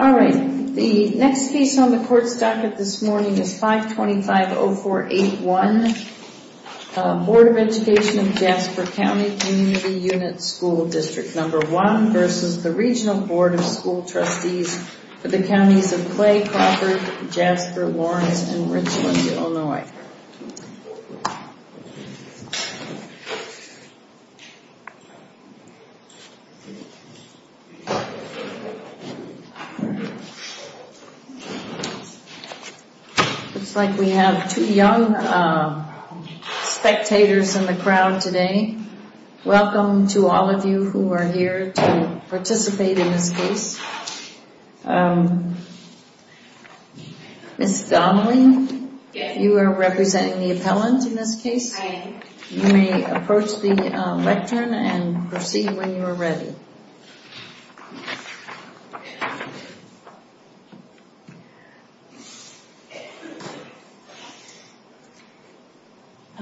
Alright, the next piece on the Court's docket this morning is 525.0481 Board of Education of Jasper County Community Unit School District No. 1 v. Regional Board of School Trustees for the counties of Clay, Crawford, Jasper, Lawrence and Richland, Illinois. Looks like we have two young spectators in the crowd today. Welcome to all of you who are here to participate in this case. Ms. Donnelly, you are representing the appellant in this case. You may approach the lectern and proceed when you are ready.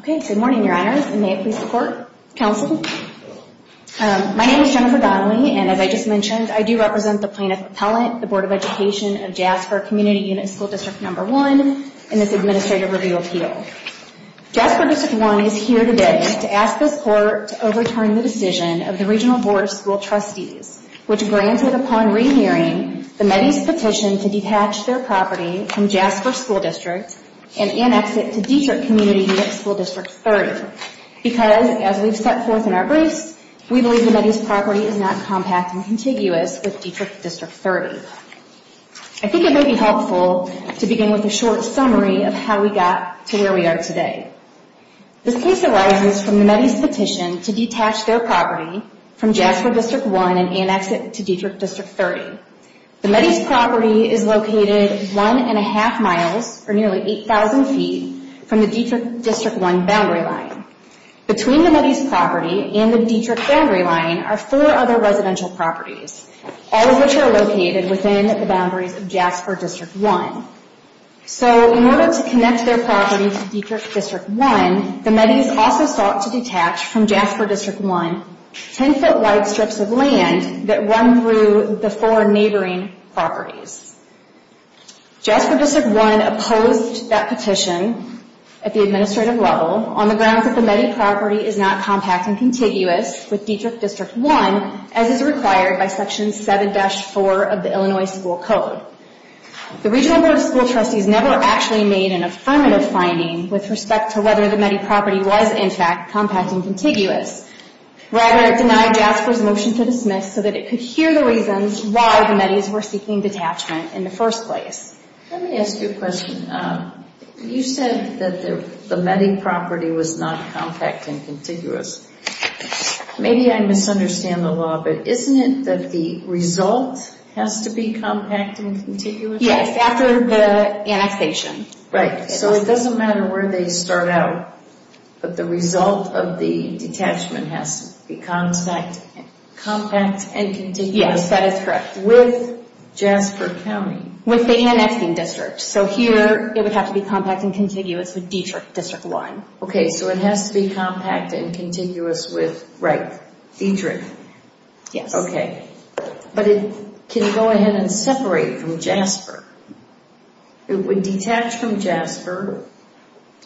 Okay, good morning, Your Honors, and may it please the Court, Counsel. My name is Jennifer Donnelly, and as I just mentioned, I do represent the plaintiff appellant, the Board of Education of Jasper Community Unit School District No. 1 in this Administrative Review Appeal. Jasper District 1 is here today to ask the Court to overturn the decision of the Regional Board of School Trustees, which granted upon re-hearing the METI's petition to detach their property from Jasper School District and annex it to Dietrich Community Unit School District 30, because as we've set forth in our briefs, we believe the METI's property is not compact and contiguous with Dietrich District 30. I think it may be helpful to begin with a short summary of how we got to where we are today. This case arises from the METI's petition to detach their property from Jasper District 1 and annex it to Dietrich District 30. The METI's property is located one and a half miles, or nearly 8,000 feet, from the Dietrich District 1 boundary line. Between the METI's property and the Dietrich boundary line are four other residential properties, all of which are located within the boundaries of Jasper District 1. So, in order to connect their property to Dietrich District 1, the METI's also sought to detach from Jasper District 1 10-foot wide strips of land that run through the four neighboring properties. Jasper District 1 opposed that petition at the administrative level on the grounds that the METI property is not compact and contiguous with Dietrich District 1, as is required by Section 7-4 of the Illinois School Code. The Regional Board of School Trustees never actually made an affirmative finding with respect to whether the METI property was, in fact, compact and contiguous. Rather, it denied Jasper's motion to dismiss so that it could hear the reasons why the METI's were seeking detachment in the first place. Let me ask you a question. You said that the METI property was not compact and contiguous. Maybe I misunderstand the law, but isn't it that the result has to be compact and contiguous? Yes, after the annexation. Right. So it doesn't matter where they start out, but the result of the detachment has to be compact and contiguous? Yes, that is correct. With Jasper County? With the annexing district. So here, it would have to be compact and contiguous with Dietrich District 1. Okay, so it has to be compact and contiguous with, right, Dietrich? Yes. Okay. But it can go ahead and separate from Jasper. It would detach from Jasper,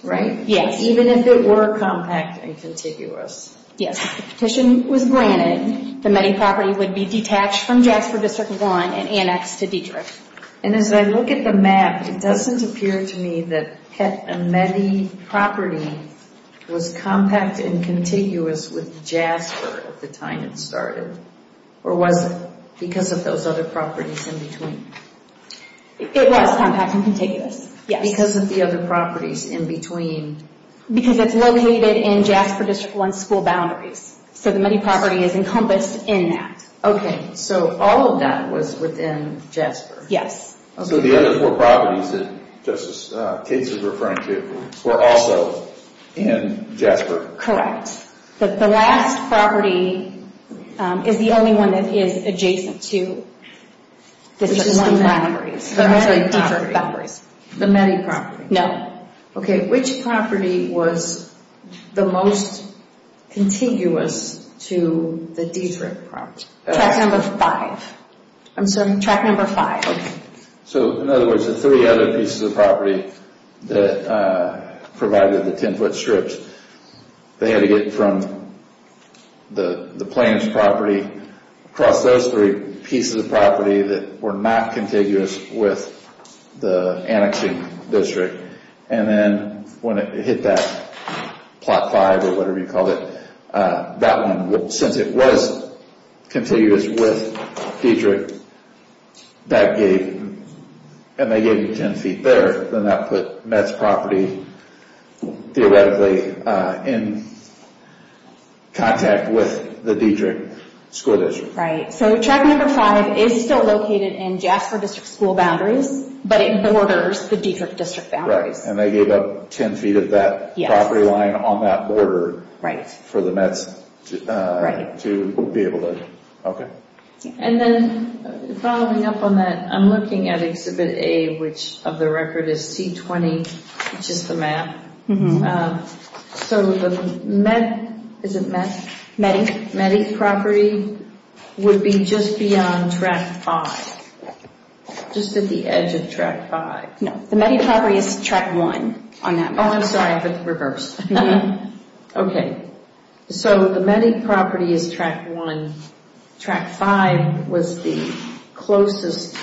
right? Yes. Even if it were compact and contiguous? Yes. If the petition was granted, the METI property would be detached from Jasper District 1 and annexed to Dietrich. And as I look at the map, it doesn't appear to me that the METI property was compact and contiguous with Jasper at the time it started. Or was it because of those other properties in between? It was compact and contiguous, yes. Because of the other properties in between? Because it's located in Jasper District 1's school boundaries. So the METI property is encompassed in that. Okay, so all of that was within Jasper? Yes. So the other four properties that Justice Katz is referring to were also in Jasper? Correct. The last property is the only one that is adjacent to District 1's boundaries. The METI property? Dietrich boundaries. The METI property? No. Okay, which property was the most contiguous to the Dietrich property? Track number 5. I'm sorry? Track number 5. Okay. So in other words, the three other pieces of property that provided the 10 foot strips, they had to get from the plaintiff's property across those three pieces of property that were not contiguous with the annexing district. And then when it hit that plot 5 or whatever you called it, that one, since it was contiguous with Dietrich, that gave, and they gave you 10 feet there. Then that put METI's property theoretically in contact with the Dietrich school district. Right, so track number 5 is still located in Jasper district school boundaries, but it borders the Dietrich district boundaries. Right, and they gave up 10 feet of that property line on that border for the METs to be able to, okay. And then following up on that, I'm looking at exhibit A, which of the record is C20, which is the map. So the METI, is it METI? METI. The METI property would be just beyond track 5, just at the edge of track 5. No, the METI property is track 1 on that map. Oh, I'm sorry, I have it reversed. Okay, so the METI property is track 1. Track 5 was the closest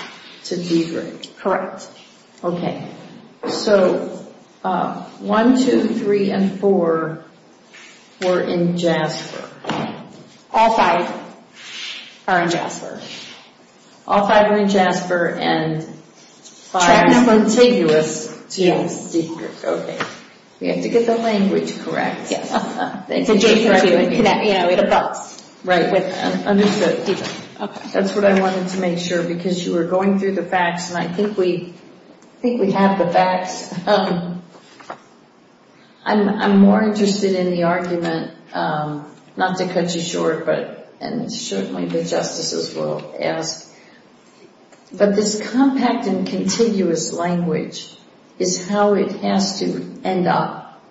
to Dietrich. Correct. Okay, so 1, 2, 3, and 4 were in Jasper. All 5 are in Jasper. All 5 are in Jasper, and 5 is in Tigris. Okay. We have to get the language correct. It's adjacent to, you know, at a bus. Right, understood. That's what I wanted to make sure, because you were going through the facts, and I think we have the facts. I'm more interested in the argument, not to cut you short, and certainly the justices will ask, but this compact and contiguous language is how it has to end up,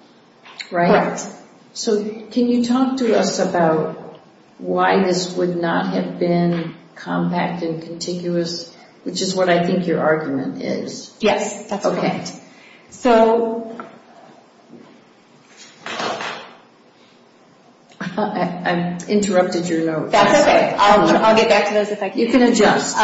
right? Correct. So can you talk to us about why this would not have been compact and contiguous, which is what I think your argument is? Yes, that's correct. I interrupted your note. That's okay. I'll get back to those if I can. You can adjust.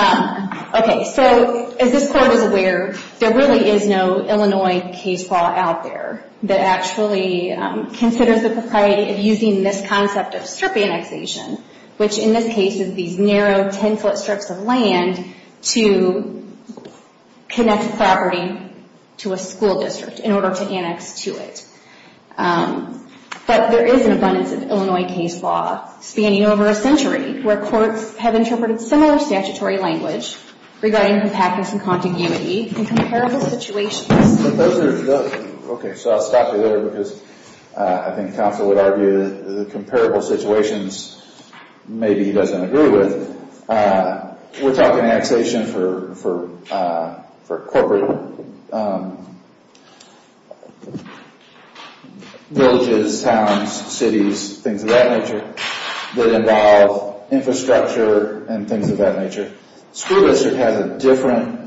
Okay, so as this Court is aware, there really is no Illinois case law out there that actually considers the propriety of using this concept of strip annexation, which in this case is these narrow, tensile strips of land to connect a property to a school district in order to annex to it. But there is an abundance of Illinois case law spanning over a century, where courts have interpreted similar statutory language regarding compactness and contiguity in comparable situations. Okay, so I'll stop you there because I think counsel would argue that the comparable situations maybe he doesn't agree with. We're talking annexation for corporate villages, towns, cities, things of that nature that involve infrastructure and things of that nature. School district has a different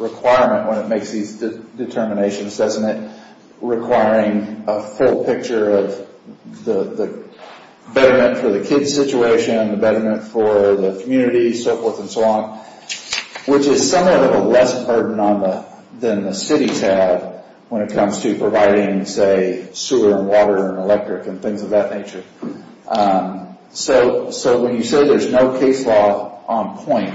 requirement when it makes these determinations, doesn't it? Requiring a full picture of the betterment for the kids' situation, the betterment for the community, so forth and so on, which is somewhat of a less burden than the cities have when it comes to providing, say, sewer and water and electric and things of that nature. So when you say there's no case law on point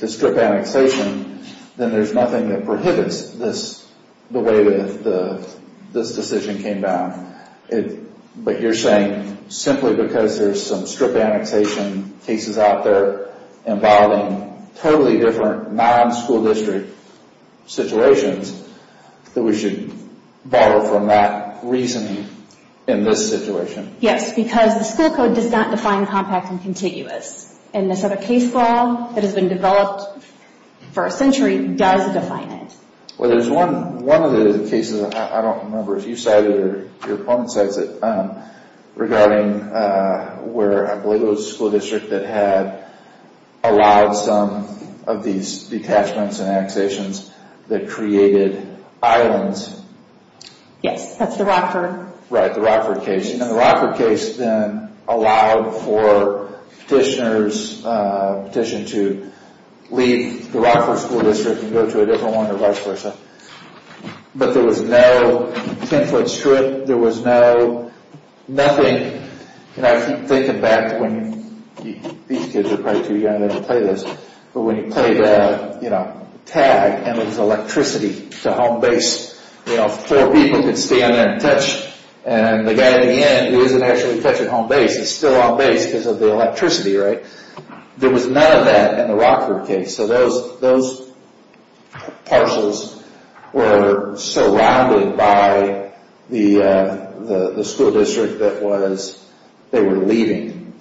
to strip annexation, then there's nothing that prohibits the way that this decision came down. But you're saying simply because there's some strip annexation cases out there involving totally different non-school district situations that we should borrow from that reasoning in this situation? Yes, because the school code does not define compact and contiguous. And this other case law that has been developed for a century does define it. Well, there's one of the cases I don't remember if you cited it or your opponent cited it regarding where I believe it was a school district that had allowed some of these detachments and annexations that created islands. Yes, that's the Rockford. Right, the Rockford case. And the Rockford case then allowed for petitioners to leave the Rockford school district and go to a different one or vice versa. But there was no 10-foot strip. There was no nothing. And I keep thinking back to when these kids are probably too young to play this, but when you played tag and it was electricity to home base, you know, four people could stand there and touch. And the guy at the end who isn't actually touching home base is still on base because of the electricity, right? There was none of that in the Rockford case. So those parcels were surrounded by the school district that they were leaving.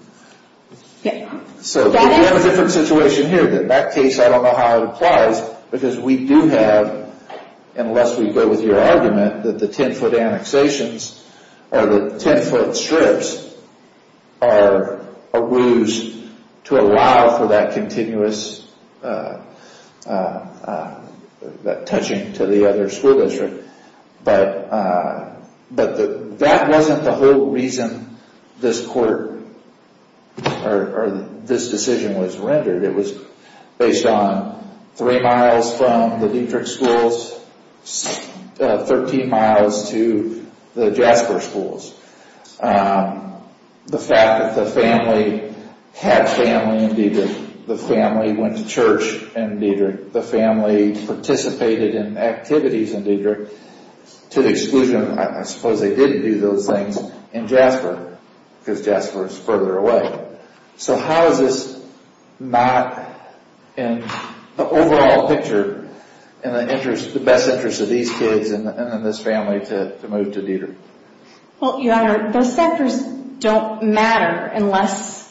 So we have a different situation here. In that case, I don't know how it applies because we do have, unless we go with your argument, that the 10-foot annexations or the 10-foot strips are a ruse to allow for that continuous touching to the other school district. But that wasn't the whole reason this court or this decision was rendered. It was based on three miles from the Dietrich schools, 13 miles to the Jasper schools. The fact that the family had family in Dietrich. The family went to church in Dietrich. The family participated in activities in Dietrich to the exclusion of, I suppose they didn't do those things in Jasper because Jasper is further away. So how is this not in the overall picture in the best interest of these kids and this family to move to Dietrich? Well, Your Honor, those factors don't matter unless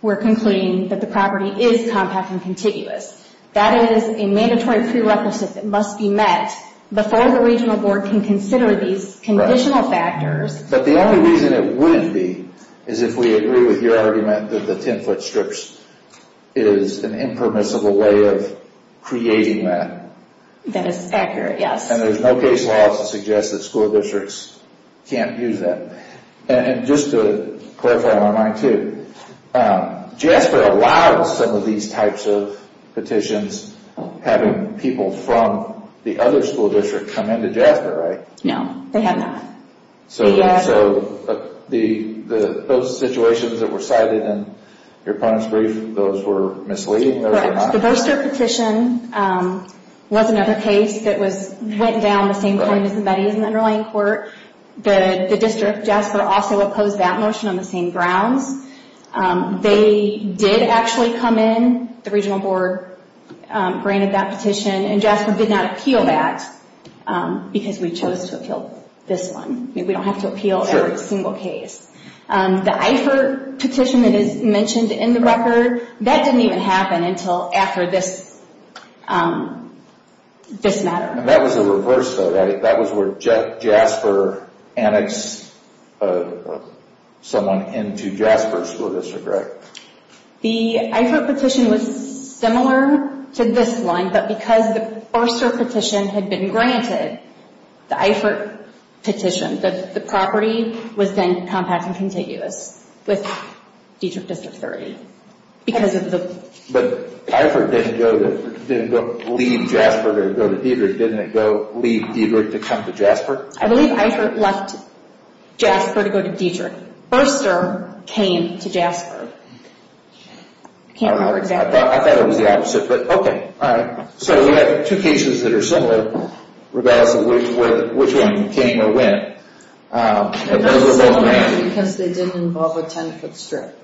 we're concluding that the property is compact and contiguous. That is a mandatory prerequisite that must be met before the regional board can consider these conditional factors. But the only reason it wouldn't be is if we agree with your argument that the 10-foot strips is an impermissible way of creating that. That is accurate, yes. And there's no case law to suggest that school districts can't use that. And just to clarify my mind too, Jasper allows some of these types of petitions, having people from the other school district come into Jasper, right? No, they have not. So those situations that were cited in your punishment brief, those were misleading? Correct. The Booster petition was another case that went down the same point as the Betty's and the underlying court. The district, Jasper, also opposed that motion on the same grounds. They did actually come in, the regional board granted that petition, and Jasper did not appeal that because we chose to appeal this one. We don't have to appeal every single case. The Eifert petition that is mentioned in the record, that didn't even happen until after this matter. And that was a reverse though, right? That was where Jasper annexed someone into Jasper School District, right? The Eifert petition was similar to this one, but because the Booster petition had been granted, the Eifert petition, the property was then compact and contiguous with Diedrich District 30. But Eifert didn't leave Jasper to go to Diedrich, didn't it leave Diedrich to come to Jasper? I believe Eifert left Jasper to go to Diedrich. But Booster came to Jasper. I can't remember exactly. I thought it was the opposite, but okay. So we have two cases that are similar regardless of which one came or went. Those are similar because they didn't involve a 10-foot strip.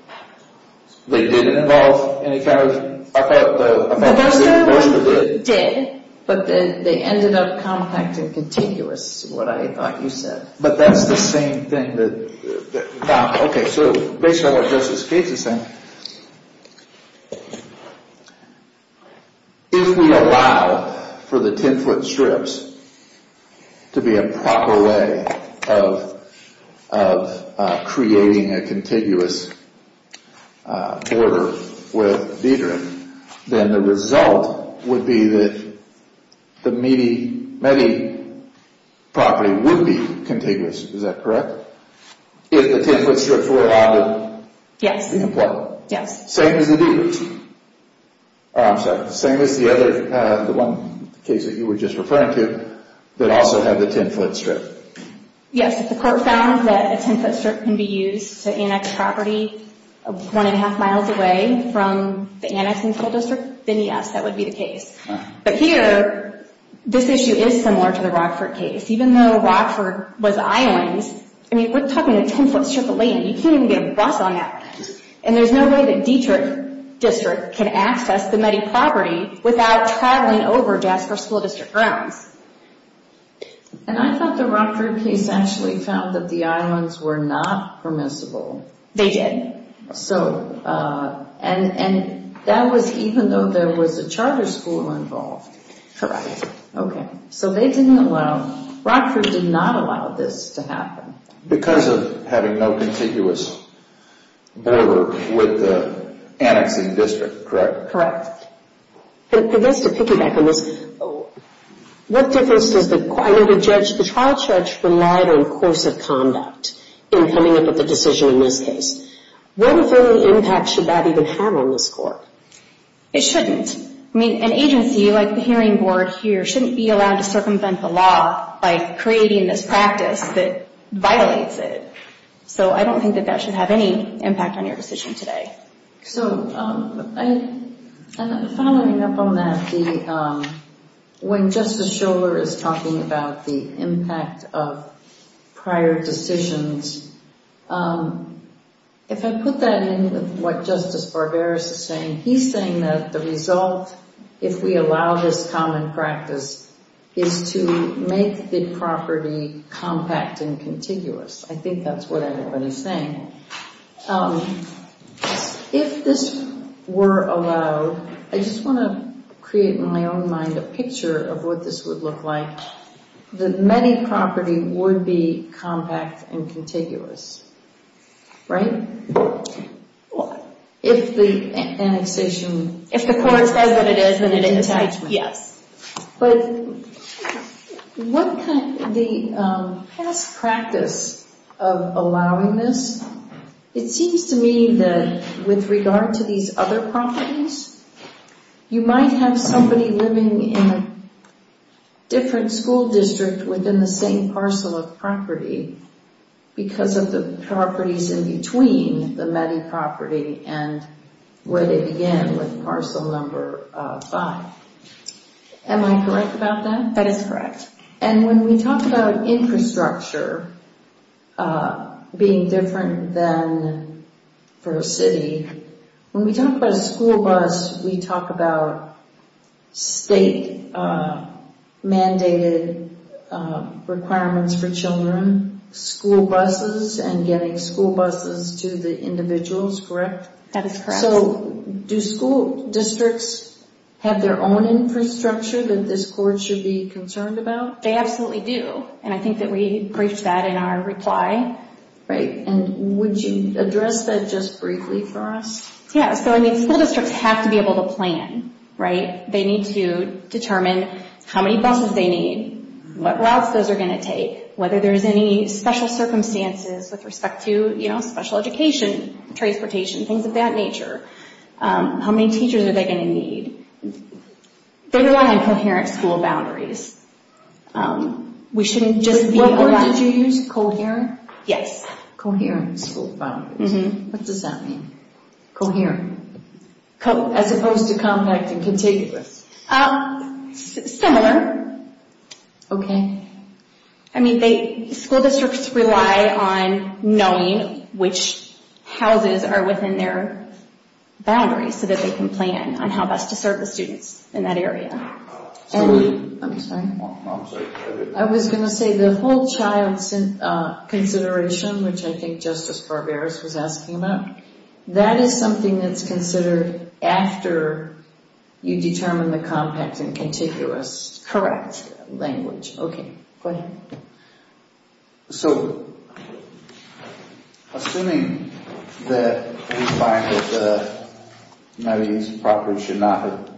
They didn't involve any kind of – The Booster one did, but they ended up compact and contiguous, what I thought you said. But that's the same thing that – Okay, so based on what Justice Gates is saying, if we allow for the 10-foot strips to be a proper way of creating a contiguous border with Diedrich, then the result would be that the Medi property would be contiguous. Is that correct? If the 10-foot strips were allowed to – Yes, yes. Same as the Diedrich. I'm sorry, same as the other – the one case that you were just referring to that also had the 10-foot strip. Yes, if the court found that a 10-foot strip can be used to annex property one and a half miles away from the annexing school district, then yes, that would be the case. But here, this issue is similar to the Rockford case. Even though Rockford was islands – I mean, we're talking a 10-foot strip of land. You can't even get a bus on that land. And there's no way that Diedrich District can access the Medi property without traveling over Jasper School District grounds. And I thought the Rockford case actually found that the islands were not permissible. They did. And that was even though there was a charter school involved. Correct. Okay. So they didn't allow – Rockford did not allow this to happen. Because of having no contiguous border with the annexing district, correct? Correct. And just to piggyback on this, what difference does the – I know the trial judge relied on course of conduct in coming up with a decision in this case. What effect should that even have on this court? It shouldn't. I mean, an agency like the hearing board here shouldn't be allowed to circumvent the law by creating this practice that violates it. So I don't think that that should have any impact on your decision today. So following up on that, when Justice Schiller is talking about the impact of prior decisions, if I put that in with what Justice Barberis is saying, he's saying that the result, if we allow this common practice, is to make the property compact and contiguous. I think that's what everybody's saying. If this were allowed, I just want to create in my own mind a picture of what this would look like, that many property would be compact and contiguous. Right? If the annexation – If the court says that it is, then it is. Yes. But the past practice of allowing this, it seems to me that with regard to these other properties, you might have somebody living in a different school district within the same parcel of property because of the properties in between the many property and where they began with parcel number five. Am I correct about that? That is correct. And when we talk about infrastructure being different than for a city, when we talk about a school bus, we talk about state-mandated requirements for children, school buses, and getting school buses to the individuals. That is correct. So do school districts have their own infrastructure that this court should be concerned about? They absolutely do. And I think that we briefed that in our reply. Right. And would you address that just briefly for us? Yes. So school districts have to be able to plan. Right? They need to determine how many buses they need, what routes those are going to take, whether there's any special circumstances with respect to special education, transportation, things of that nature. How many teachers are they going to need? They want to have coherent school boundaries. What word did you use? Coherent? Yes. Coherent school boundaries. What does that mean? Coherent. As opposed to compact and contiguous. Similar. Okay. I mean, school districts rely on knowing which houses are within their boundaries so that they can plan on how best to serve the students in that area. I'm sorry. I'm sorry. I was going to say the whole child consideration, which I think Justice Barberos was asking about, that is something that's considered after you determine the compact and contiguous. Correct. That language. Go ahead. So, assuming that we find that these properties should not have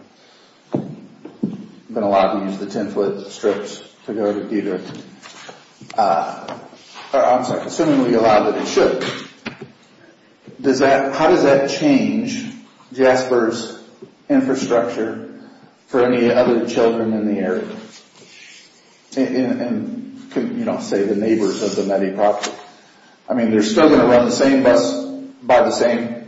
been allowed to use the 10-foot strips to go to Deterrent, or I'm sorry, assuming we allow that it should, how does that change Jasper's infrastructure for any other children in the area? You don't say the neighbors of the many properties. I mean, they're still going to run the same bus by the same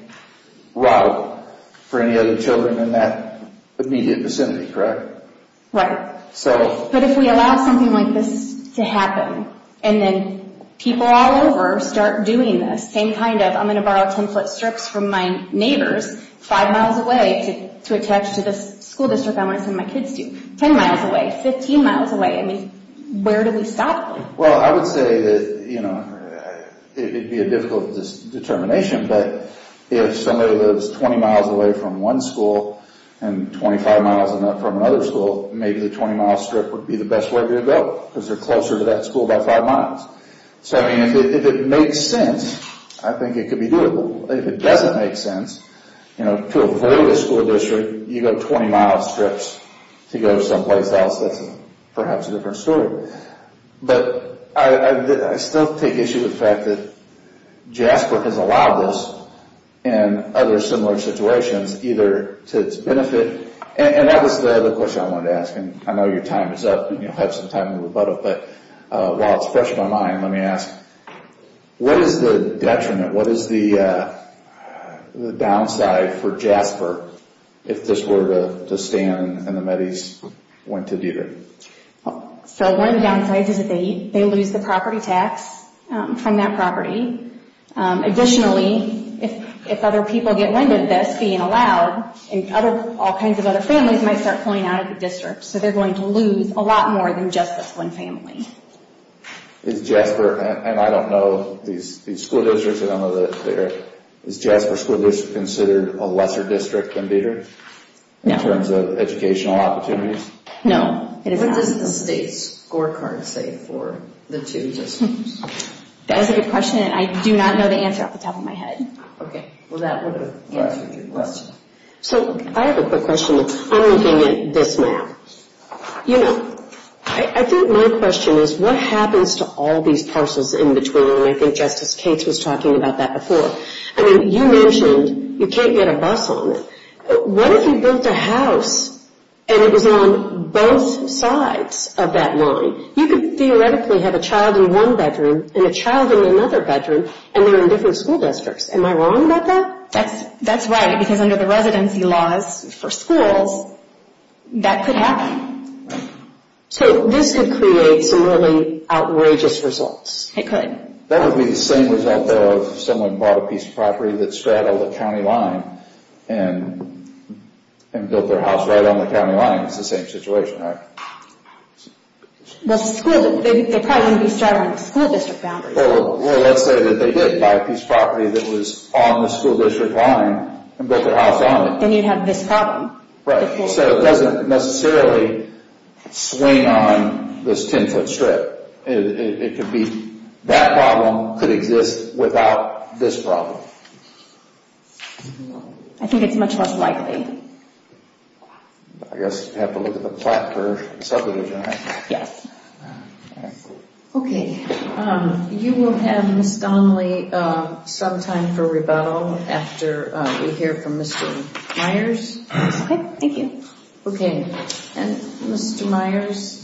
route for any other children in that immediate vicinity, correct? Right. But if we allow something like this to happen, and then people all over start doing this, same kind of I'm going to borrow 10-foot strips from my neighbors five miles away to attach to this school district I want to send my kids to, 10 miles away, 15 miles away. I mean, where do we stop? Well, I would say that it would be a difficult determination, but if somebody lives 20 miles away from one school and 25 miles from another school, maybe the 20-mile strip would be the best way to go because they're closer to that school by five miles. So, I mean, if it makes sense, I think it could be doable. If it doesn't make sense, you know, to avoid a school district, you go 20-mile strips to go someplace else, that's perhaps a different story. But I still take issue with the fact that Jasper has allowed this and other similar situations either to its benefit, and that was the other question I wanted to ask, and I know your time is up and you'll have some time to rebut it, but while it's fresh in my mind, let me ask, what is the detriment, what is the downside for Jasper if this were to stand and the Metis went to Deter? So one of the downsides is that they lose the property tax from that property. Additionally, if other people get wind of this being allowed, and all kinds of other families might start pulling out of the district, so they're going to lose a lot more than just this one family. Is Jasper, and I don't know, these school districts, I don't know that they're, is Jasper school district considered a lesser district than Deter? No. In terms of educational opportunities? No, it is not. What does the state scorecard say for the two districts? That's a good question, and I do not know the answer off the top of my head. Okay. Well, that would have answered your question. So I have a quick question. I'm looking at this map. You know, I think my question is what happens to all these parcels in between, and I think Justice Cates was talking about that before. I mean, you mentioned you can't get a bus on it. What if you built a house and it was on both sides of that line? You could theoretically have a child in one bedroom and a child in another bedroom, and they're in different school districts. Am I wrong about that? That's right, because under the residency laws for schools, that could happen. So this could create some really outrageous results. It could. That would be the same result of someone bought a piece of property that straddled a county line and built their house right on the county line. It's the same situation, right? Well, they probably wouldn't be straddling the school district boundaries. Well, let's say that they did buy a piece of property that was on the school district line and built their house on it. Then you'd have this problem. So it doesn't necessarily swing on this 10-foot strip. It could be that problem could exist without this problem. I think it's much less likely. I guess you'd have to look at the plot curve and subdivision. Yes. Okay. You will have, Ms. Donnelly, some time for rebuttal after we hear from Mr. Myers. Okay. Thank you. Okay. And, Mr. Myers,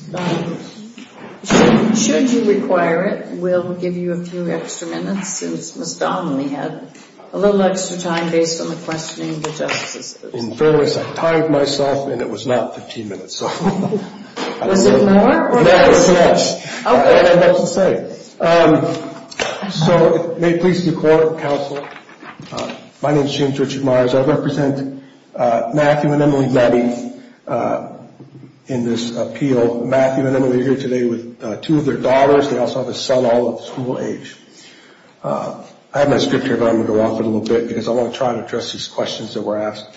should you require it, we'll give you a few extra minutes since Ms. Donnelly had a little extra time based on the questioning of the justices. In fairness, I tied myself, and it was not 15 minutes. Was it more or less? It was less. Okay. I don't know what else to say. So it may please the Court, Counsel. My name is James Richard Myers. I represent Matthew and Emily Dabby in this appeal. Matthew and Emily are here today with two of their daughters. They also have a son all of school age. I have my script here, but I'm going to go off it a little bit because I want to try and address these questions that were asked.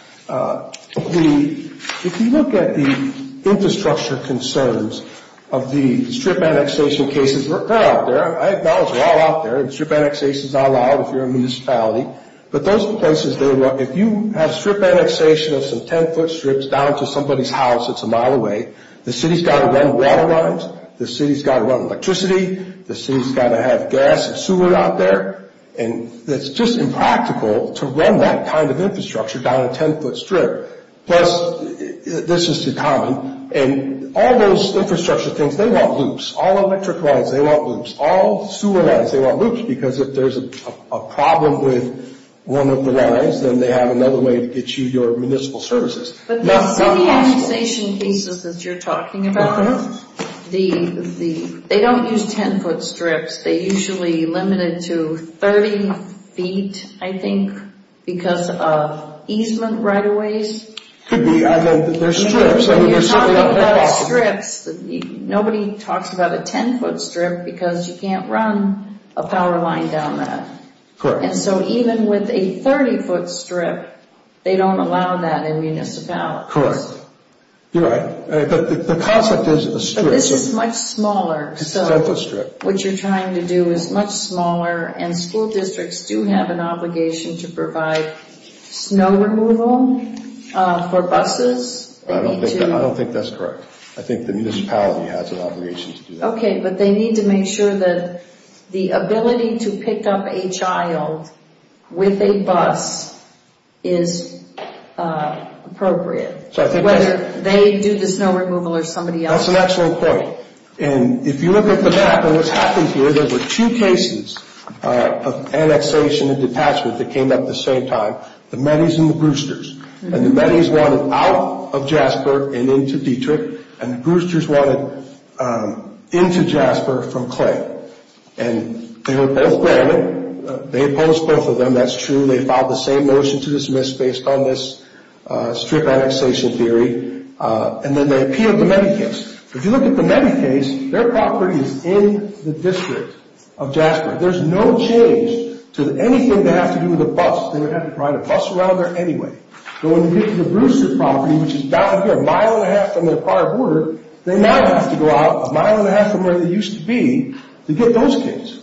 If you look at the infrastructure concerns of the strip annexation cases, they're out there. I acknowledge they're all out there. Strip annexation is all out if you're a municipality. But those places, if you have strip annexation of some 10-foot strips down to somebody's house that's a mile away, the city's got to run water lines. The city's got to run electricity. The city's got to have gas and sewer out there. And it's just impractical to run that kind of infrastructure down a 10-foot strip. Plus, this is too common, and all those infrastructure things, they want loops. All electric lines, they want loops. All sewer lines, they want loops because if there's a problem with one of the lines, then they have another way to get you your municipal services. But the city annexation cases that you're talking about, they don't use 10-foot strips. They usually limit it to 30 feet, I think, because of easement right-of-ways. Could be. There's strips. You're talking about strips. Nobody talks about a 10-foot strip because you can't run a power line down that. Correct. And so even with a 30-foot strip, they don't allow that in municipalities. Correct. You're right. But the concept is a strip. This is much smaller. It's a 10-foot strip. What you're trying to do is much smaller, and school districts do have an obligation to provide snow removal for buses. I don't think that's correct. I think the municipality has an obligation to do that. Okay, but they need to make sure that the ability to pick up a child with a bus is appropriate, whether they do the snow removal or somebody else. That's an excellent point. If you look at the map and what's happening here, there were two cases of annexation and detachment that came up at the same time, the Metis and the Brewsters. The Metis wanted out of Jasper and into Dietrich, and the Brewsters wanted into Jasper from Clay. They were both granted. They opposed both of them. That's true. They filed the same motion to dismiss based on this strip annexation theory, and then they appealed the Metis case. If you look at the Metis case, their property is in the district of Jasper. There's no change to anything that has to do with a bus. They would have to provide a bus around there anyway. So when you get to the Brewster property, which is down here a mile and a half from their prior border, they now have to go out a mile and a half from where they used to be to get those kids.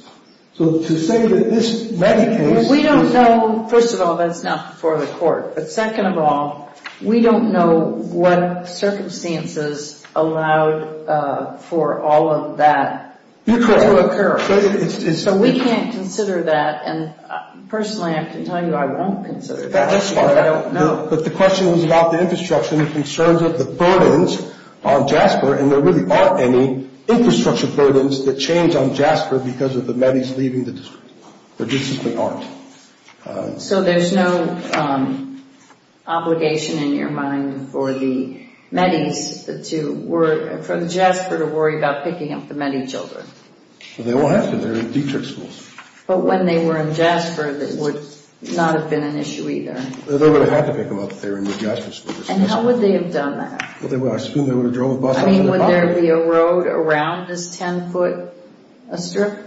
So to say that this Metis case is— We don't know. First of all, that's not before the court. But second of all, we don't know what circumstances allowed for all of that to occur. So we can't consider that. And personally, I can tell you I won't consider that. That's fine. I don't know. But the question was about the infrastructure and the concerns of the burdens on Jasper, and there really aren't any infrastructure burdens that change on Jasper because of the Metis leaving the district. There just simply aren't. So there's no obligation in your mind for the Metis to—for Jasper to worry about picking up the Metis children? They all have to. They're in Detrick schools. But when they were in Jasper, that would not have been an issue either. They would have had to pick them up if they were in the Jasper schools. And how would they have done that? I assume they would have drove a bus up to the bottom. I mean, would there be a road around this 10-foot strip?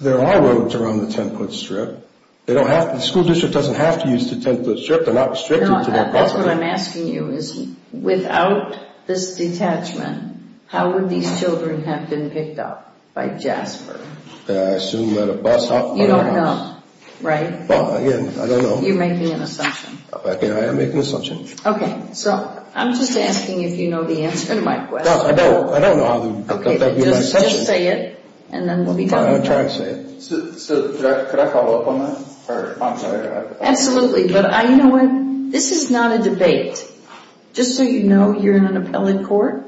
There are roads around the 10-foot strip. They don't have—the school district doesn't have to use the 10-foot strip. They're not restricted to that process. That's what I'm asking you is, without this detachment, how would these children have been picked up by Jasper? I assume by the bus. You don't know, right? Well, again, I don't know. You're making an assumption. I am making an assumption. Okay. So I'm just asking if you know the answer to my question. No, I don't. I don't know how— Okay, just say it, and then we'll be done with that. I'm trying to say it. Could I follow up on that? Absolutely, but you know what? This is not a debate. Just so you know, you're in an appellate court,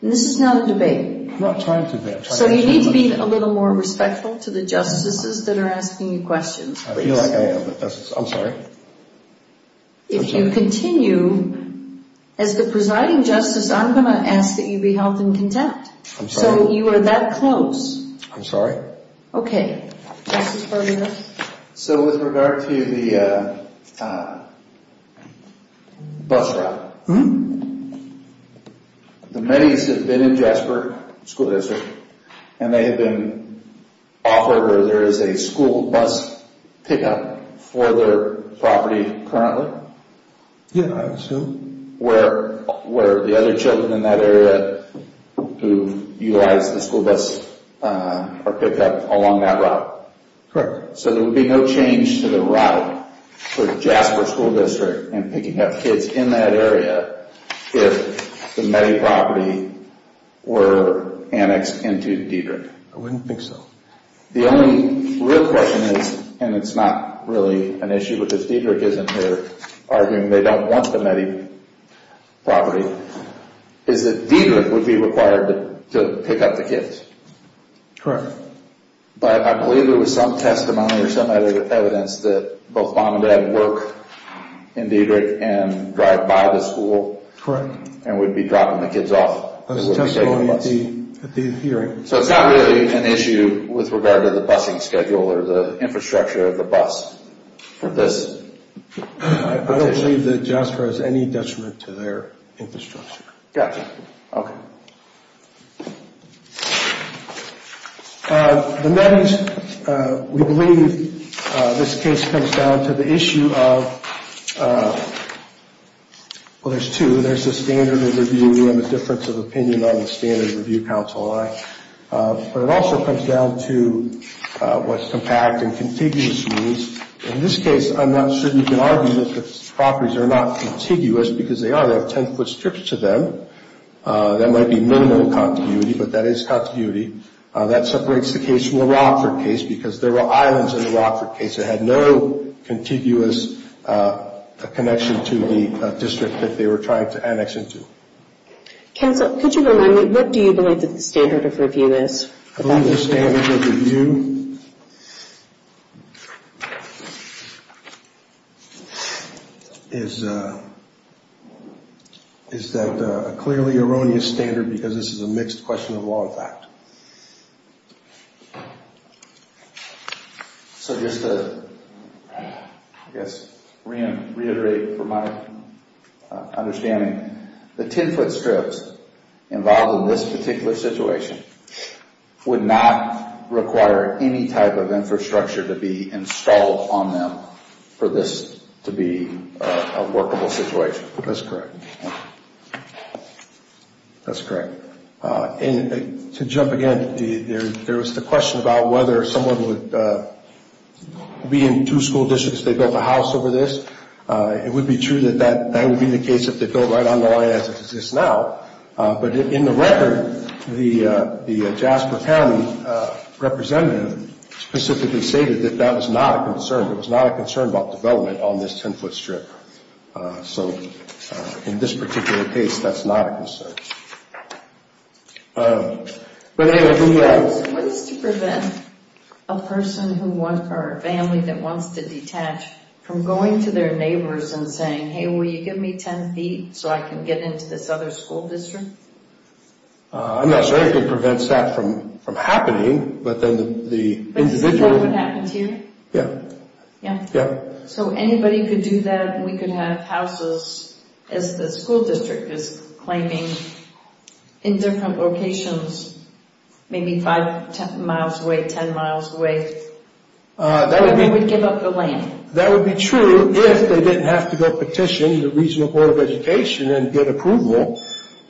and this is not a debate. I'm not trying to debate. So you need to be a little more respectful to the justices that are asking you questions. I feel like I am, but I'm sorry. If you continue, as the presiding justice, I'm going to ask that you be held in contempt. I'm sorry. So you are that close. I'm sorry. Okay. Justice Berman? So with regard to the bus route, the Mennies have been in Jasper School District, and they have been offered where there is a school bus pickup for their property currently. Yeah, I assume. Where the other children in that area who utilize the school bus are picked up along that route. Correct. So there would be no change to the route for Jasper School District in picking up kids in that area if the Mennie property were annexed into Diedrich. I wouldn't think so. The only real question is—and it's not really an issue because Diedrich isn't here— arguing they don't want the Mennie property— is that Diedrich would be required to pick up the kids. Correct. But I believe there was some testimony or some evidence that both mom and dad work in Diedrich and drive by the school and would be dropping the kids off. There was testimony at the hearing. So it's not really an issue with regard to the bussing schedule or the infrastructure of the bus for this. I don't believe that Jasper has any detriment to their infrastructure. Gotcha. Okay. The Mennies, we believe this case comes down to the issue of—well, there's two. There's the standard of review and the difference of opinion on the standard of review counsel. But it also comes down to what's compact and contiguous rules. In this case, I'm not sure you can argue that the properties are not contiguous because they are. They have 10-foot strips to them. That might be minimal contiguity, but that is contiguity. That separates the case from the Rockford case because there were islands in the Rockford case. It had no contiguous connection to the district that they were trying to annex into. Counsel, could you remind me, what do you believe that the standard of review is? I believe the standard of review is that a clearly erroneous standard because this is a mixed question of law and fact. So just to, I guess, reiterate from my understanding, the 10-foot strips involved in this particular situation would not require any type of infrastructure to be installed on them for this to be a workable situation. That's correct. That's correct. To jump again, there was the question about whether someone would be in two school districts, they built a house over this. It would be true that that would be the case if they built right on the line as it exists now. But in the record, the Jasper County representative specifically stated that that was not a concern. It was not a concern about development on this 10-foot strip. So in this particular case, that's not a concern. What is to prevent a person or a family that wants to detach from going to their neighbors and saying, hey, will you give me 10 feet so I can get into this other school district? I'm not sure if it prevents that from happening, but then the individual... But is that what happens here? Yeah. Yeah? Yeah. So anybody could do that? We could have houses, as the school district is claiming, in different locations, maybe 5 miles away, 10 miles away? They would give up the land. That would be true if they didn't have to go petition the Regional Board of Education and get approval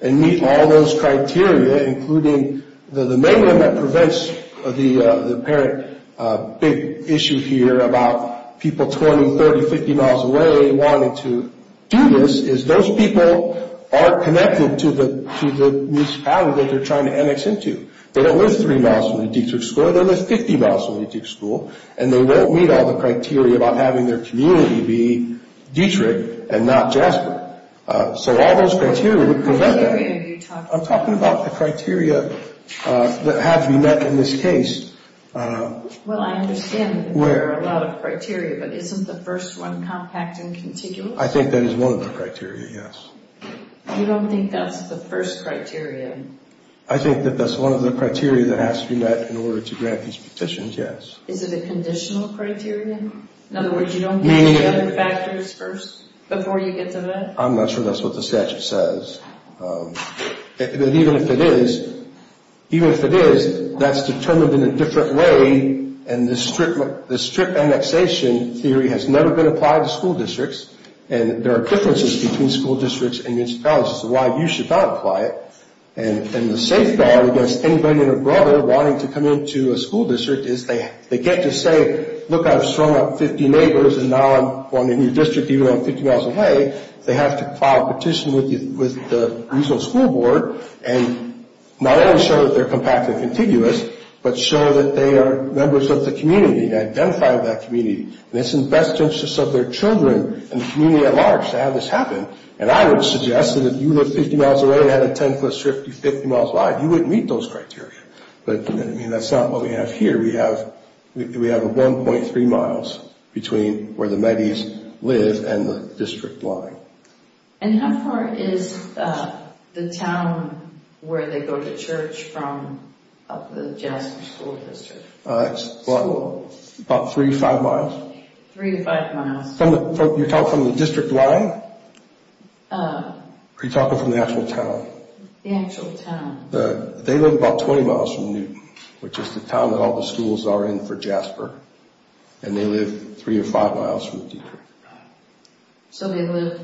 and meet all those criteria, including the main one that prevents the apparent big issue here about people 20, 30, 50 miles away wanting to do this, is those people aren't connected to the municipality that they're trying to annex into. They don't live 3 miles from the Dietrich School. They live 50 miles from the Dietrich School. And they won't meet all the criteria about having their community be Dietrich and not Jasper. So all those criteria would prevent that. What criteria are you talking about? I'm talking about the criteria that have to be met in this case. Well, I understand that there are a lot of criteria, but isn't the first one compact and contiguous? I think that is one of the criteria, yes. You don't think that's the first criteria? I think that that's one of the criteria that has to be met in order to grant these petitions, yes. Is it a conditional criterion? In other words, you don't meet the other factors first before you get to that? I'm not sure that's what the statute says. Even if it is, even if it is, that's determined in a different way. And the strip annexation theory has never been applied to school districts. And there are differences between school districts and municipalities as to why you should not apply it. And the safeguard against anybody and their brother wanting to come into a school district is they get to say, look, I've strung up 50 neighbors and now I'm going to a new district even though I'm 50 miles away. They have to file a petition with the regional school board and not only show that they're compact and contiguous, but show that they are members of the community and identify with that community. And it's in the best interest of their children and the community at large to have this happen. And I would suggest that if you live 50 miles away and had a 10-foot strip 50 miles wide, you wouldn't meet those criteria. But, I mean, that's not what we have here. We have a 1.3 miles between where the Metis live and the district line. And how far is the town where they go to church from up the Jasper School District? It's about three to five miles. Three to five miles. You're talking from the district line or are you talking from the actual town? The actual town. They live about 20 miles from Newton, which is the town that all the schools are in for Jasper. And they live three or five miles from the district. So they live,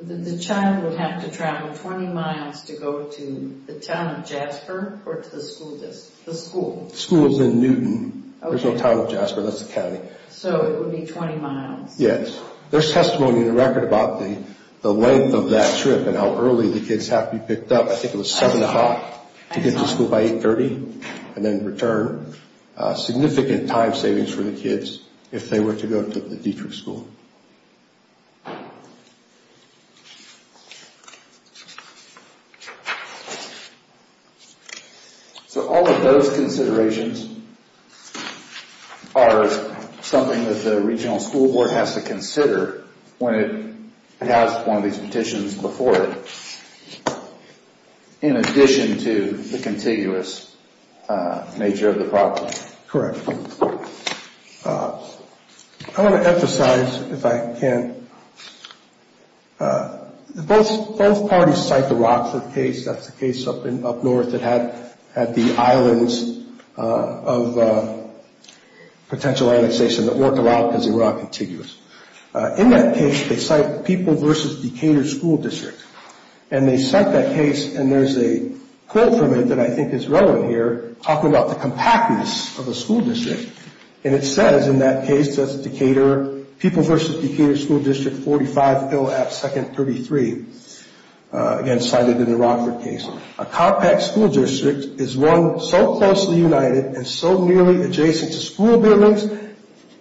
the child would have to travel 20 miles to go to the town of Jasper or to the school district, the school? The school is in Newton. There's no town of Jasper. That's the county. So it would be 20 miles. Yes. There's testimony in the record about the length of that trip and how early the kids have to be picked up. I think it was 7 o'clock to get to school by 8.30 and then return. Significant time savings for the kids if they were to go to the district school. So all of those considerations are something that the regional school board has to consider when it has one of these petitions before it in addition to the contiguous nature of the problem. Correct. I want to emphasize, if I can, both parties cite the Rockford case. That's the case up north that had the islands of potential annexation that worked a lot because they were all contiguous. In that case, they cite people versus Decatur school district. And they cite that case and there's a quote from it that I think is relevant here talking about the compactness of a school district. And it says in that case, that's Decatur, people versus Decatur school district, 45 Hill Ave., 2nd, 33. Again, cited in the Rockford case. A compact school district is one so closely united and so nearly adjacent to school buildings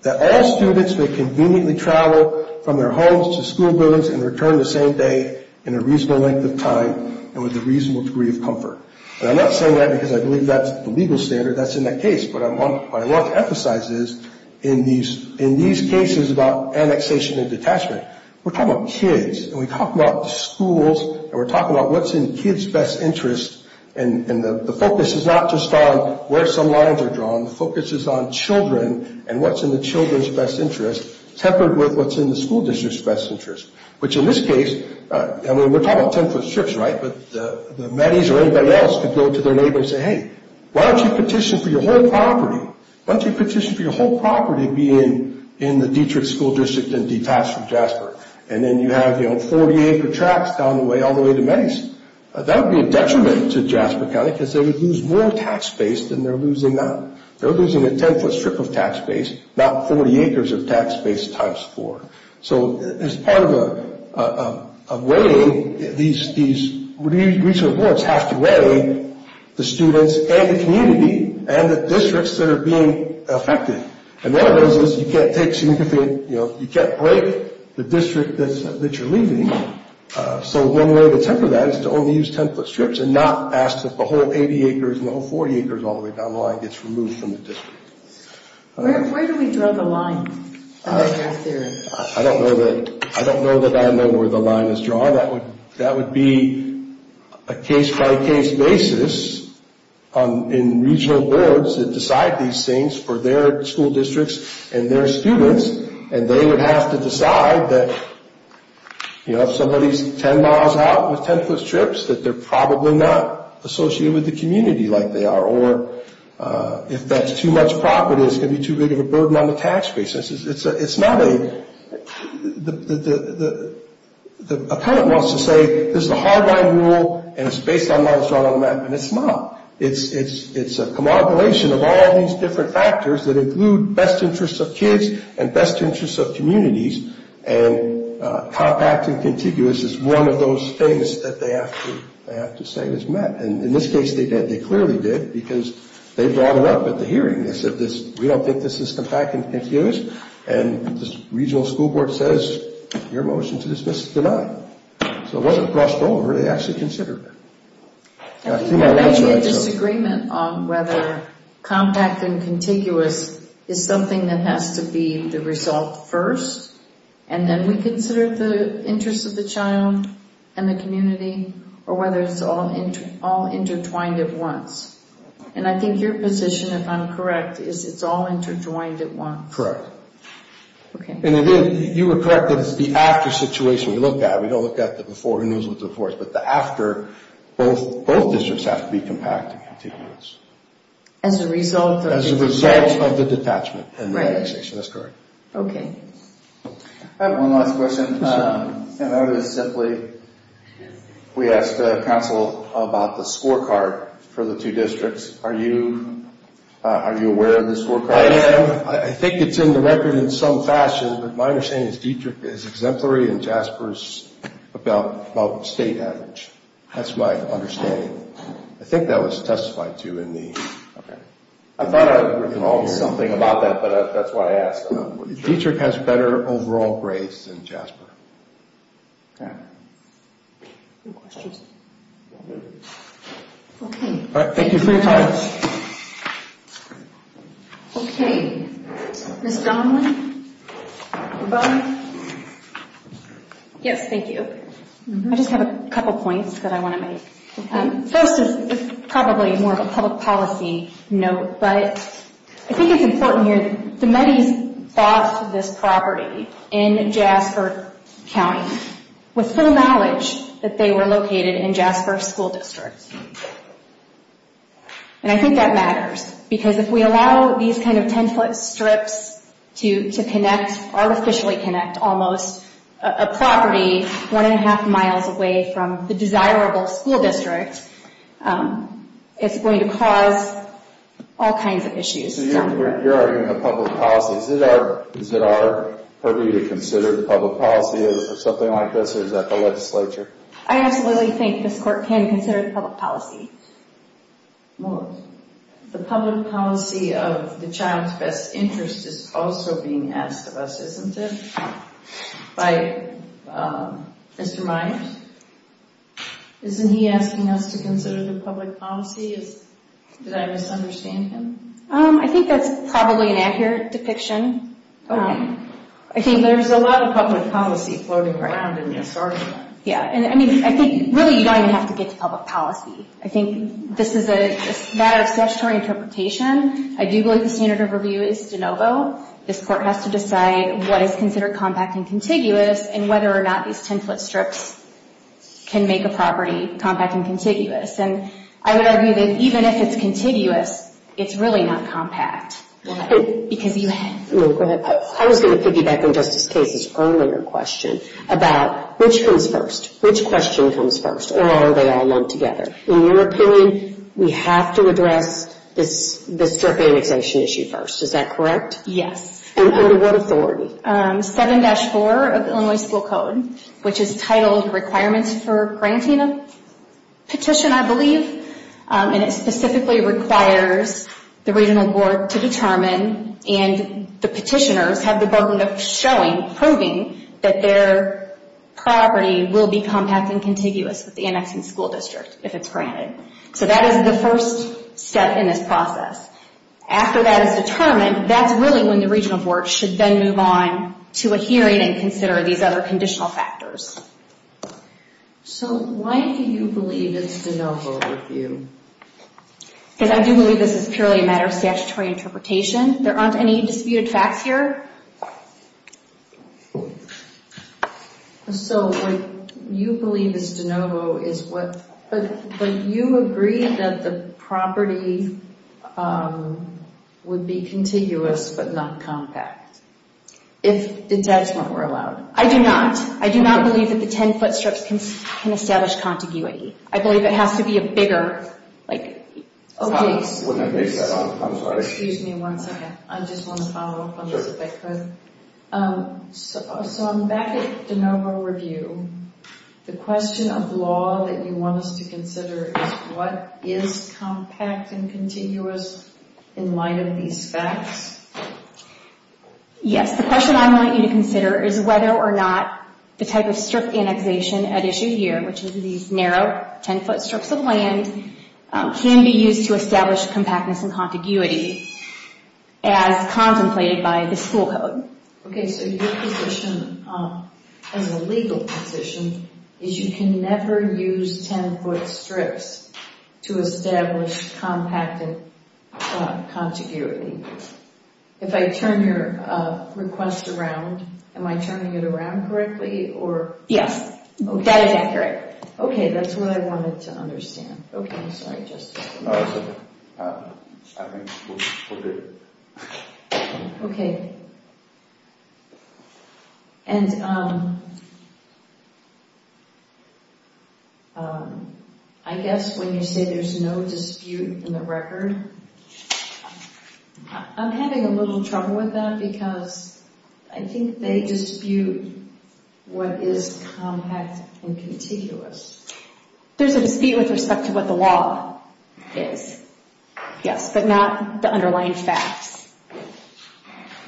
that all students may conveniently travel from their homes to school buildings and return the same day in a reasonable length of time and with a reasonable degree of comfort. And I'm not saying that because I believe that's the legal standard that's in that case. But what I want to emphasize is in these cases about annexation and detachment, we're talking about kids. And we talk about the schools and we're talking about what's in kids' best interest. And the focus is not just on where some lines are drawn. The focus is on children and what's in the children's best interest tempered with what's in the school district's best interest. Which in this case, I mean, we're talking about 10-foot strips, right? But the Metis or anybody else could go to their neighbor and say, hey, why don't you petition for your whole property? Why don't you petition for your whole property being in the Dietrich school district and detached from Jasper? And then you have, you know, 40-acre tracks down the way all the way to Metis. That would be a detriment to Jasper County because they would lose more tax base than they're losing now. They're losing a 10-foot strip of tax base, not 40 acres of tax base times four. So as part of a way, these recent reports have to weigh the students and the community and the districts that are being affected. And one of those is you can't take significant, you know, you can't break the district that you're leaving. So one way to temper that is to only use 10-foot strips and not ask that the whole 80 acres and the whole 40 acres all the way down the line gets removed from the district. Where do we draw the line? I don't know that I know where the line is drawn. That would be a case-by-case basis in regional boards that decide these things for their school districts and their students. And they would have to decide that, you know, if somebody's 10 miles out with 10-foot strips, that they're probably not associated with the community like they are. Or if that's too much property, it's going to be too big of a burden on the tax base. It's not a – the appellant wants to say this is a hard-line rule and it's based on what is drawn on the map, and it's not. It's a commodulation of all these different factors that include best interests of kids and best interests of communities. And compact and contiguous is one of those things that they have to say is met. And in this case, they clearly did because they brought it up at the hearing. They said, we don't think this is compact and confused. And the regional school board says, your motion to dismiss is denied. So it wasn't crossed over. They actually considered it. There may be a disagreement on whether compact and contiguous is something that has to be the result first, and then we consider the interests of the child and the community, or whether it's all intertwined at once. And I think your position, if I'm correct, is it's all interjoined at once. Okay. And you were correct that it's the after situation we look at. We don't look at the before, who knows what the before is. But the after, both districts have to be compact and contiguous. As a result of the – As a result of the detachment and the annexation. That's correct. Okay. I have one last question. And that is simply, we asked the council about the scorecard for the two districts. Are you aware of the scorecard? I am. I think it's in the record in some fashion. But my understanding is Dietrich is exemplary and Jasper is about state average. That's my understanding. I think that was testified to in the – Okay. I thought I recalled something about that, but that's why I asked. Dietrich has better overall grades than Jasper. Okay. Any questions? Okay. Thank you for your time. Okay. Ms. Donnelly? Yes, thank you. I just have a couple points that I want to make. First is probably more of a public policy note, but I think it's important here. The Metis bought this property in Jasper County with full knowledge that they were located in Jasper school district. And I think that matters because if we allow these kind of 10-foot strips to connect, artificially connect almost a property one and a half miles away from the desirable school district, it's going to cause all kinds of issues. So you're arguing a public policy. Is it our purview to consider the public policy or something like this, or is that the legislature? I absolutely think this court can consider the public policy. The public policy of the child's best interest is also being asked of us, isn't it? By Mr. Myers. Isn't he asking us to consider the public policy? Did I misunderstand him? I think that's probably an accurate depiction. I think there's a lot of public policy floating around in this. Yeah, I mean, I think really you don't even have to get to public policy. I think this is a matter of statutory interpretation. I do believe the standard of review is de novo. This court has to decide what is considered compact and contiguous and whether or not these 10-foot strips can make a property compact and contiguous. And I would argue that even if it's contiguous, it's really not compact. I was going to piggyback on Justice Case's earlier question about which comes first. Which question comes first, or are they all lumped together? In your opinion, we have to address this strip annexation issue first. Is that correct? Yes. And under what authority? 7-4 of the Illinois School Code, which is titled Requirements for Granting a Petition, I believe. And it specifically requires the regional board to determine, and the petitioners have the burden of showing, proving that their property will be compact and contiguous with the annexing school district if it's granted. So that is the first step in this process. After that is determined, that's really when the regional board should then move on to a hearing and consider these other conditional factors. So why do you believe it's de novo with you? Because I do believe this is purely a matter of statutory interpretation. There aren't any disputed facts here. So what you believe is de novo is what, but you agree that the property would be contiguous but not compact. If the debts weren't allowed. I do not. I do not believe that the 10-foot strips can establish contiguity. I believe it has to be a bigger, like, Excuse me one second. I just want to follow up on this if I could. So I'm back at de novo review. The question of law that you want us to consider is what is compact and contiguous in light of these facts? Yes, the question I want you to consider is whether or not the type of strip annexation at issue here, which is these narrow 10-foot strips of land, can be used to establish compactness and contiguity as contemplated by the school code. Okay, so your position as a legal position is you can never use 10-foot strips to establish compacted contiguity. If I turn your request around, am I turning it around correctly? Yes, that is accurate. Okay, that's what I wanted to understand. Okay, I'm sorry, just a second. I think we're good. Okay. And I guess when you say there's no dispute in the record, I'm having a little trouble with that because I think they dispute what is compact and contiguous. There's a dispute with respect to what the law is, yes, but not the underlying facts.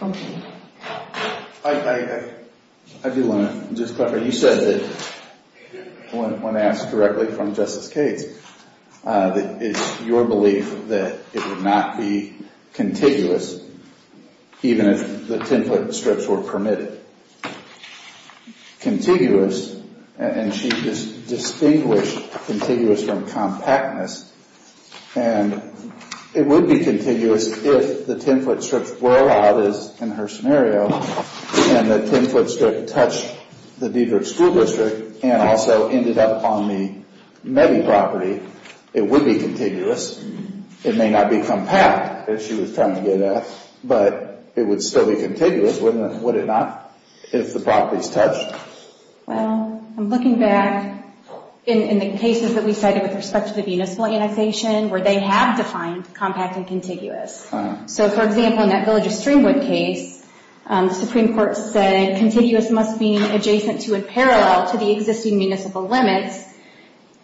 Okay. I do want to just clarify. You said that when asked correctly from Justice Cates that it's your belief that it would not be contiguous even if the 10-foot strips were permitted. Contiguous, and she distinguished contiguous from compactness, and it would be contiguous if the 10-foot strips were allowed, as in her scenario, and the 10-foot strip touched the Diedrich School District and also ended up on the Mebby property, it would be contiguous. It may not be compact, as she was trying to get at, but it would still be contiguous, would it not, if the properties touched? Well, I'm looking back in the cases that we cited with respect to the municipal annexation where they have defined compact and contiguous. So, for example, in that Village of Streamwood case, the Supreme Court said contiguous must be adjacent to or parallel to the existing municipal limits,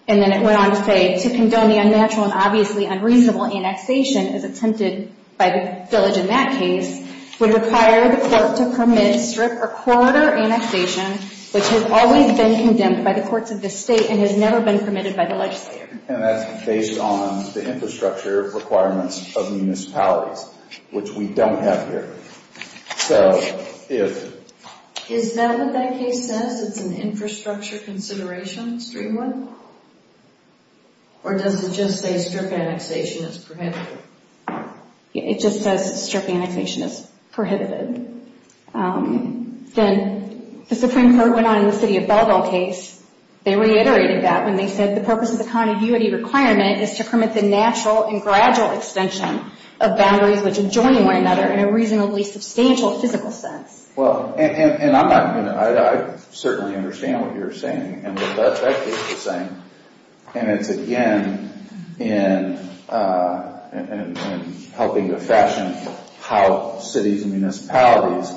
and then it went on to say, to condone the unnatural and obviously unreasonable annexation as attempted by the village in that case would require the court to permit strip or corridor annexation which has always been condemned by the courts of the state and has never been permitted by the legislature. And that's based on the infrastructure requirements of municipalities, which we don't have here. So, if... Is that what that case says? It's an infrastructure consideration, Streamwood? Or does it just say strip annexation is prohibited? It just says strip annexation is prohibited. Then the Supreme Court went on in the City of Belleville case. They reiterated that when they said the purpose of the contiguity requirement is to permit the natural and gradual extension of boundaries which enjoin one another in a reasonably substantial physical sense. Well, and I'm not going to... I certainly understand what you're saying, and what that case is saying. And it's again in helping to fashion how cities and municipalities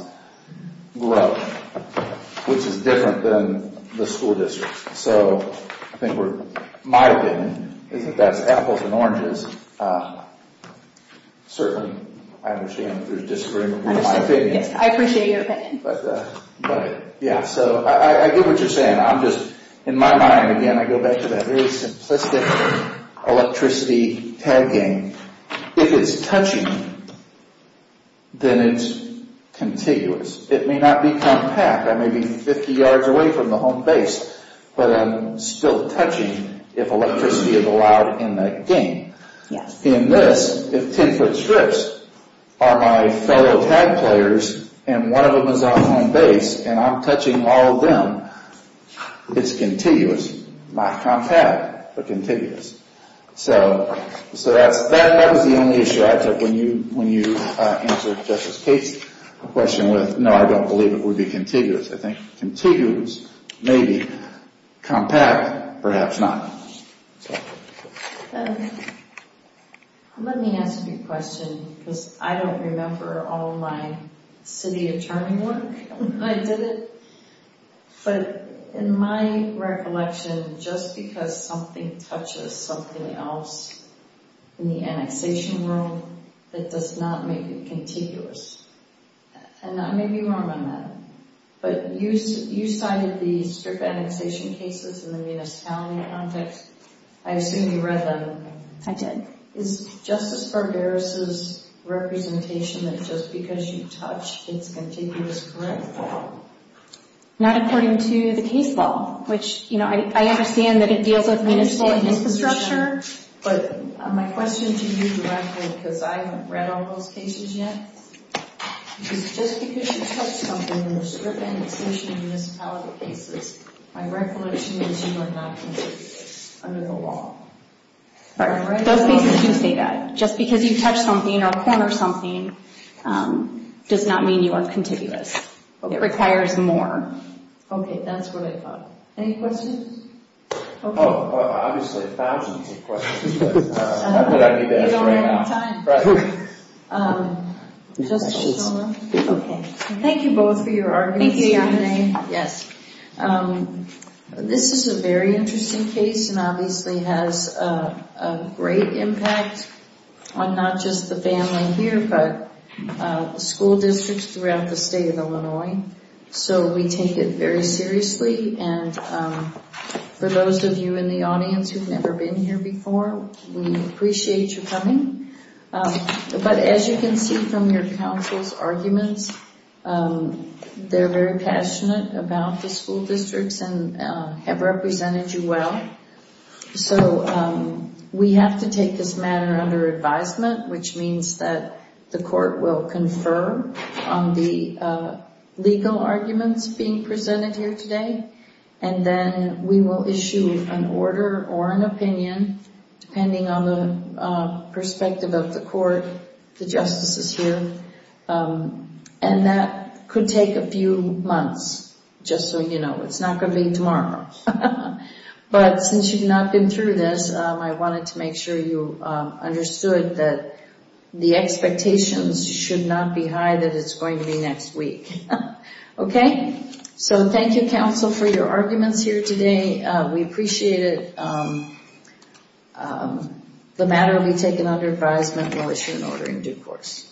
grow, which is different than the school districts. So, I think we're... My opinion is that that's apples and oranges. Certainly, I understand if there's disagreement with my opinion. I appreciate your opinion. But, yeah. So, I get what you're saying. I'm just... In my mind, again, I go back to that very simplistic electricity tag game. If it's touching, then it's contiguous. It may not be compact. I may be 50 yards away from the home base, but I'm still touching if electricity is allowed in that game. In this, if 10-foot strips are my fellow tag players, and one of them is on home base, and I'm touching all of them, it's contiguous. Not compact, but contiguous. So, that was the only issue I took when you answered Justice Cates' question with, no, I don't believe it would be contiguous. I think contiguous may be compact, perhaps not. Let me ask you a question, because I don't remember all my city attorney work when I did it. But, in my recollection, just because something touches something else in the annexation room, it does not make it contiguous. And I may be wrong on that. But you cited the strip annexation cases in the municipality context. I assume you read them. I did. Is Justice Barberos' representation that just because you touch, it's contiguous correct? Not according to the case law, which I understand that it deals with municipal infrastructure. But my question to you directly, because I haven't read all those cases yet, is just because you touch something in the strip annexation and municipality cases, my recollection is you are not contiguous under the law. Those cases do say that. Just because you touch something or corner something does not mean you are contiguous. It requires more. Okay, that's what I thought. Any questions? Obviously, thousands of questions. You don't have any time. Thank you both for your arguments. Thank you, Yamane. Yes. This is a very interesting case and obviously has a great impact on not just the family here but school districts throughout the state of Illinois. So we take it very seriously. And for those of you in the audience who have never been here before, we appreciate your coming. But as you can see from your counsel's arguments, they're very passionate about the school districts and have represented you well. So we have to take this matter under advisement, which means that the court will confer on the legal arguments being presented here today, and then we will issue an order or an opinion, depending on the perspective of the court, the justices here. And that could take a few months, just so you know. It's not going to be tomorrow. But since you've not been through this, I wanted to make sure you understood that the expectations should not be high that it's going to be next week. Okay? So thank you, counsel, for your arguments here today. We appreciate it. The matter will be taken under advisement. We'll issue an order in due course.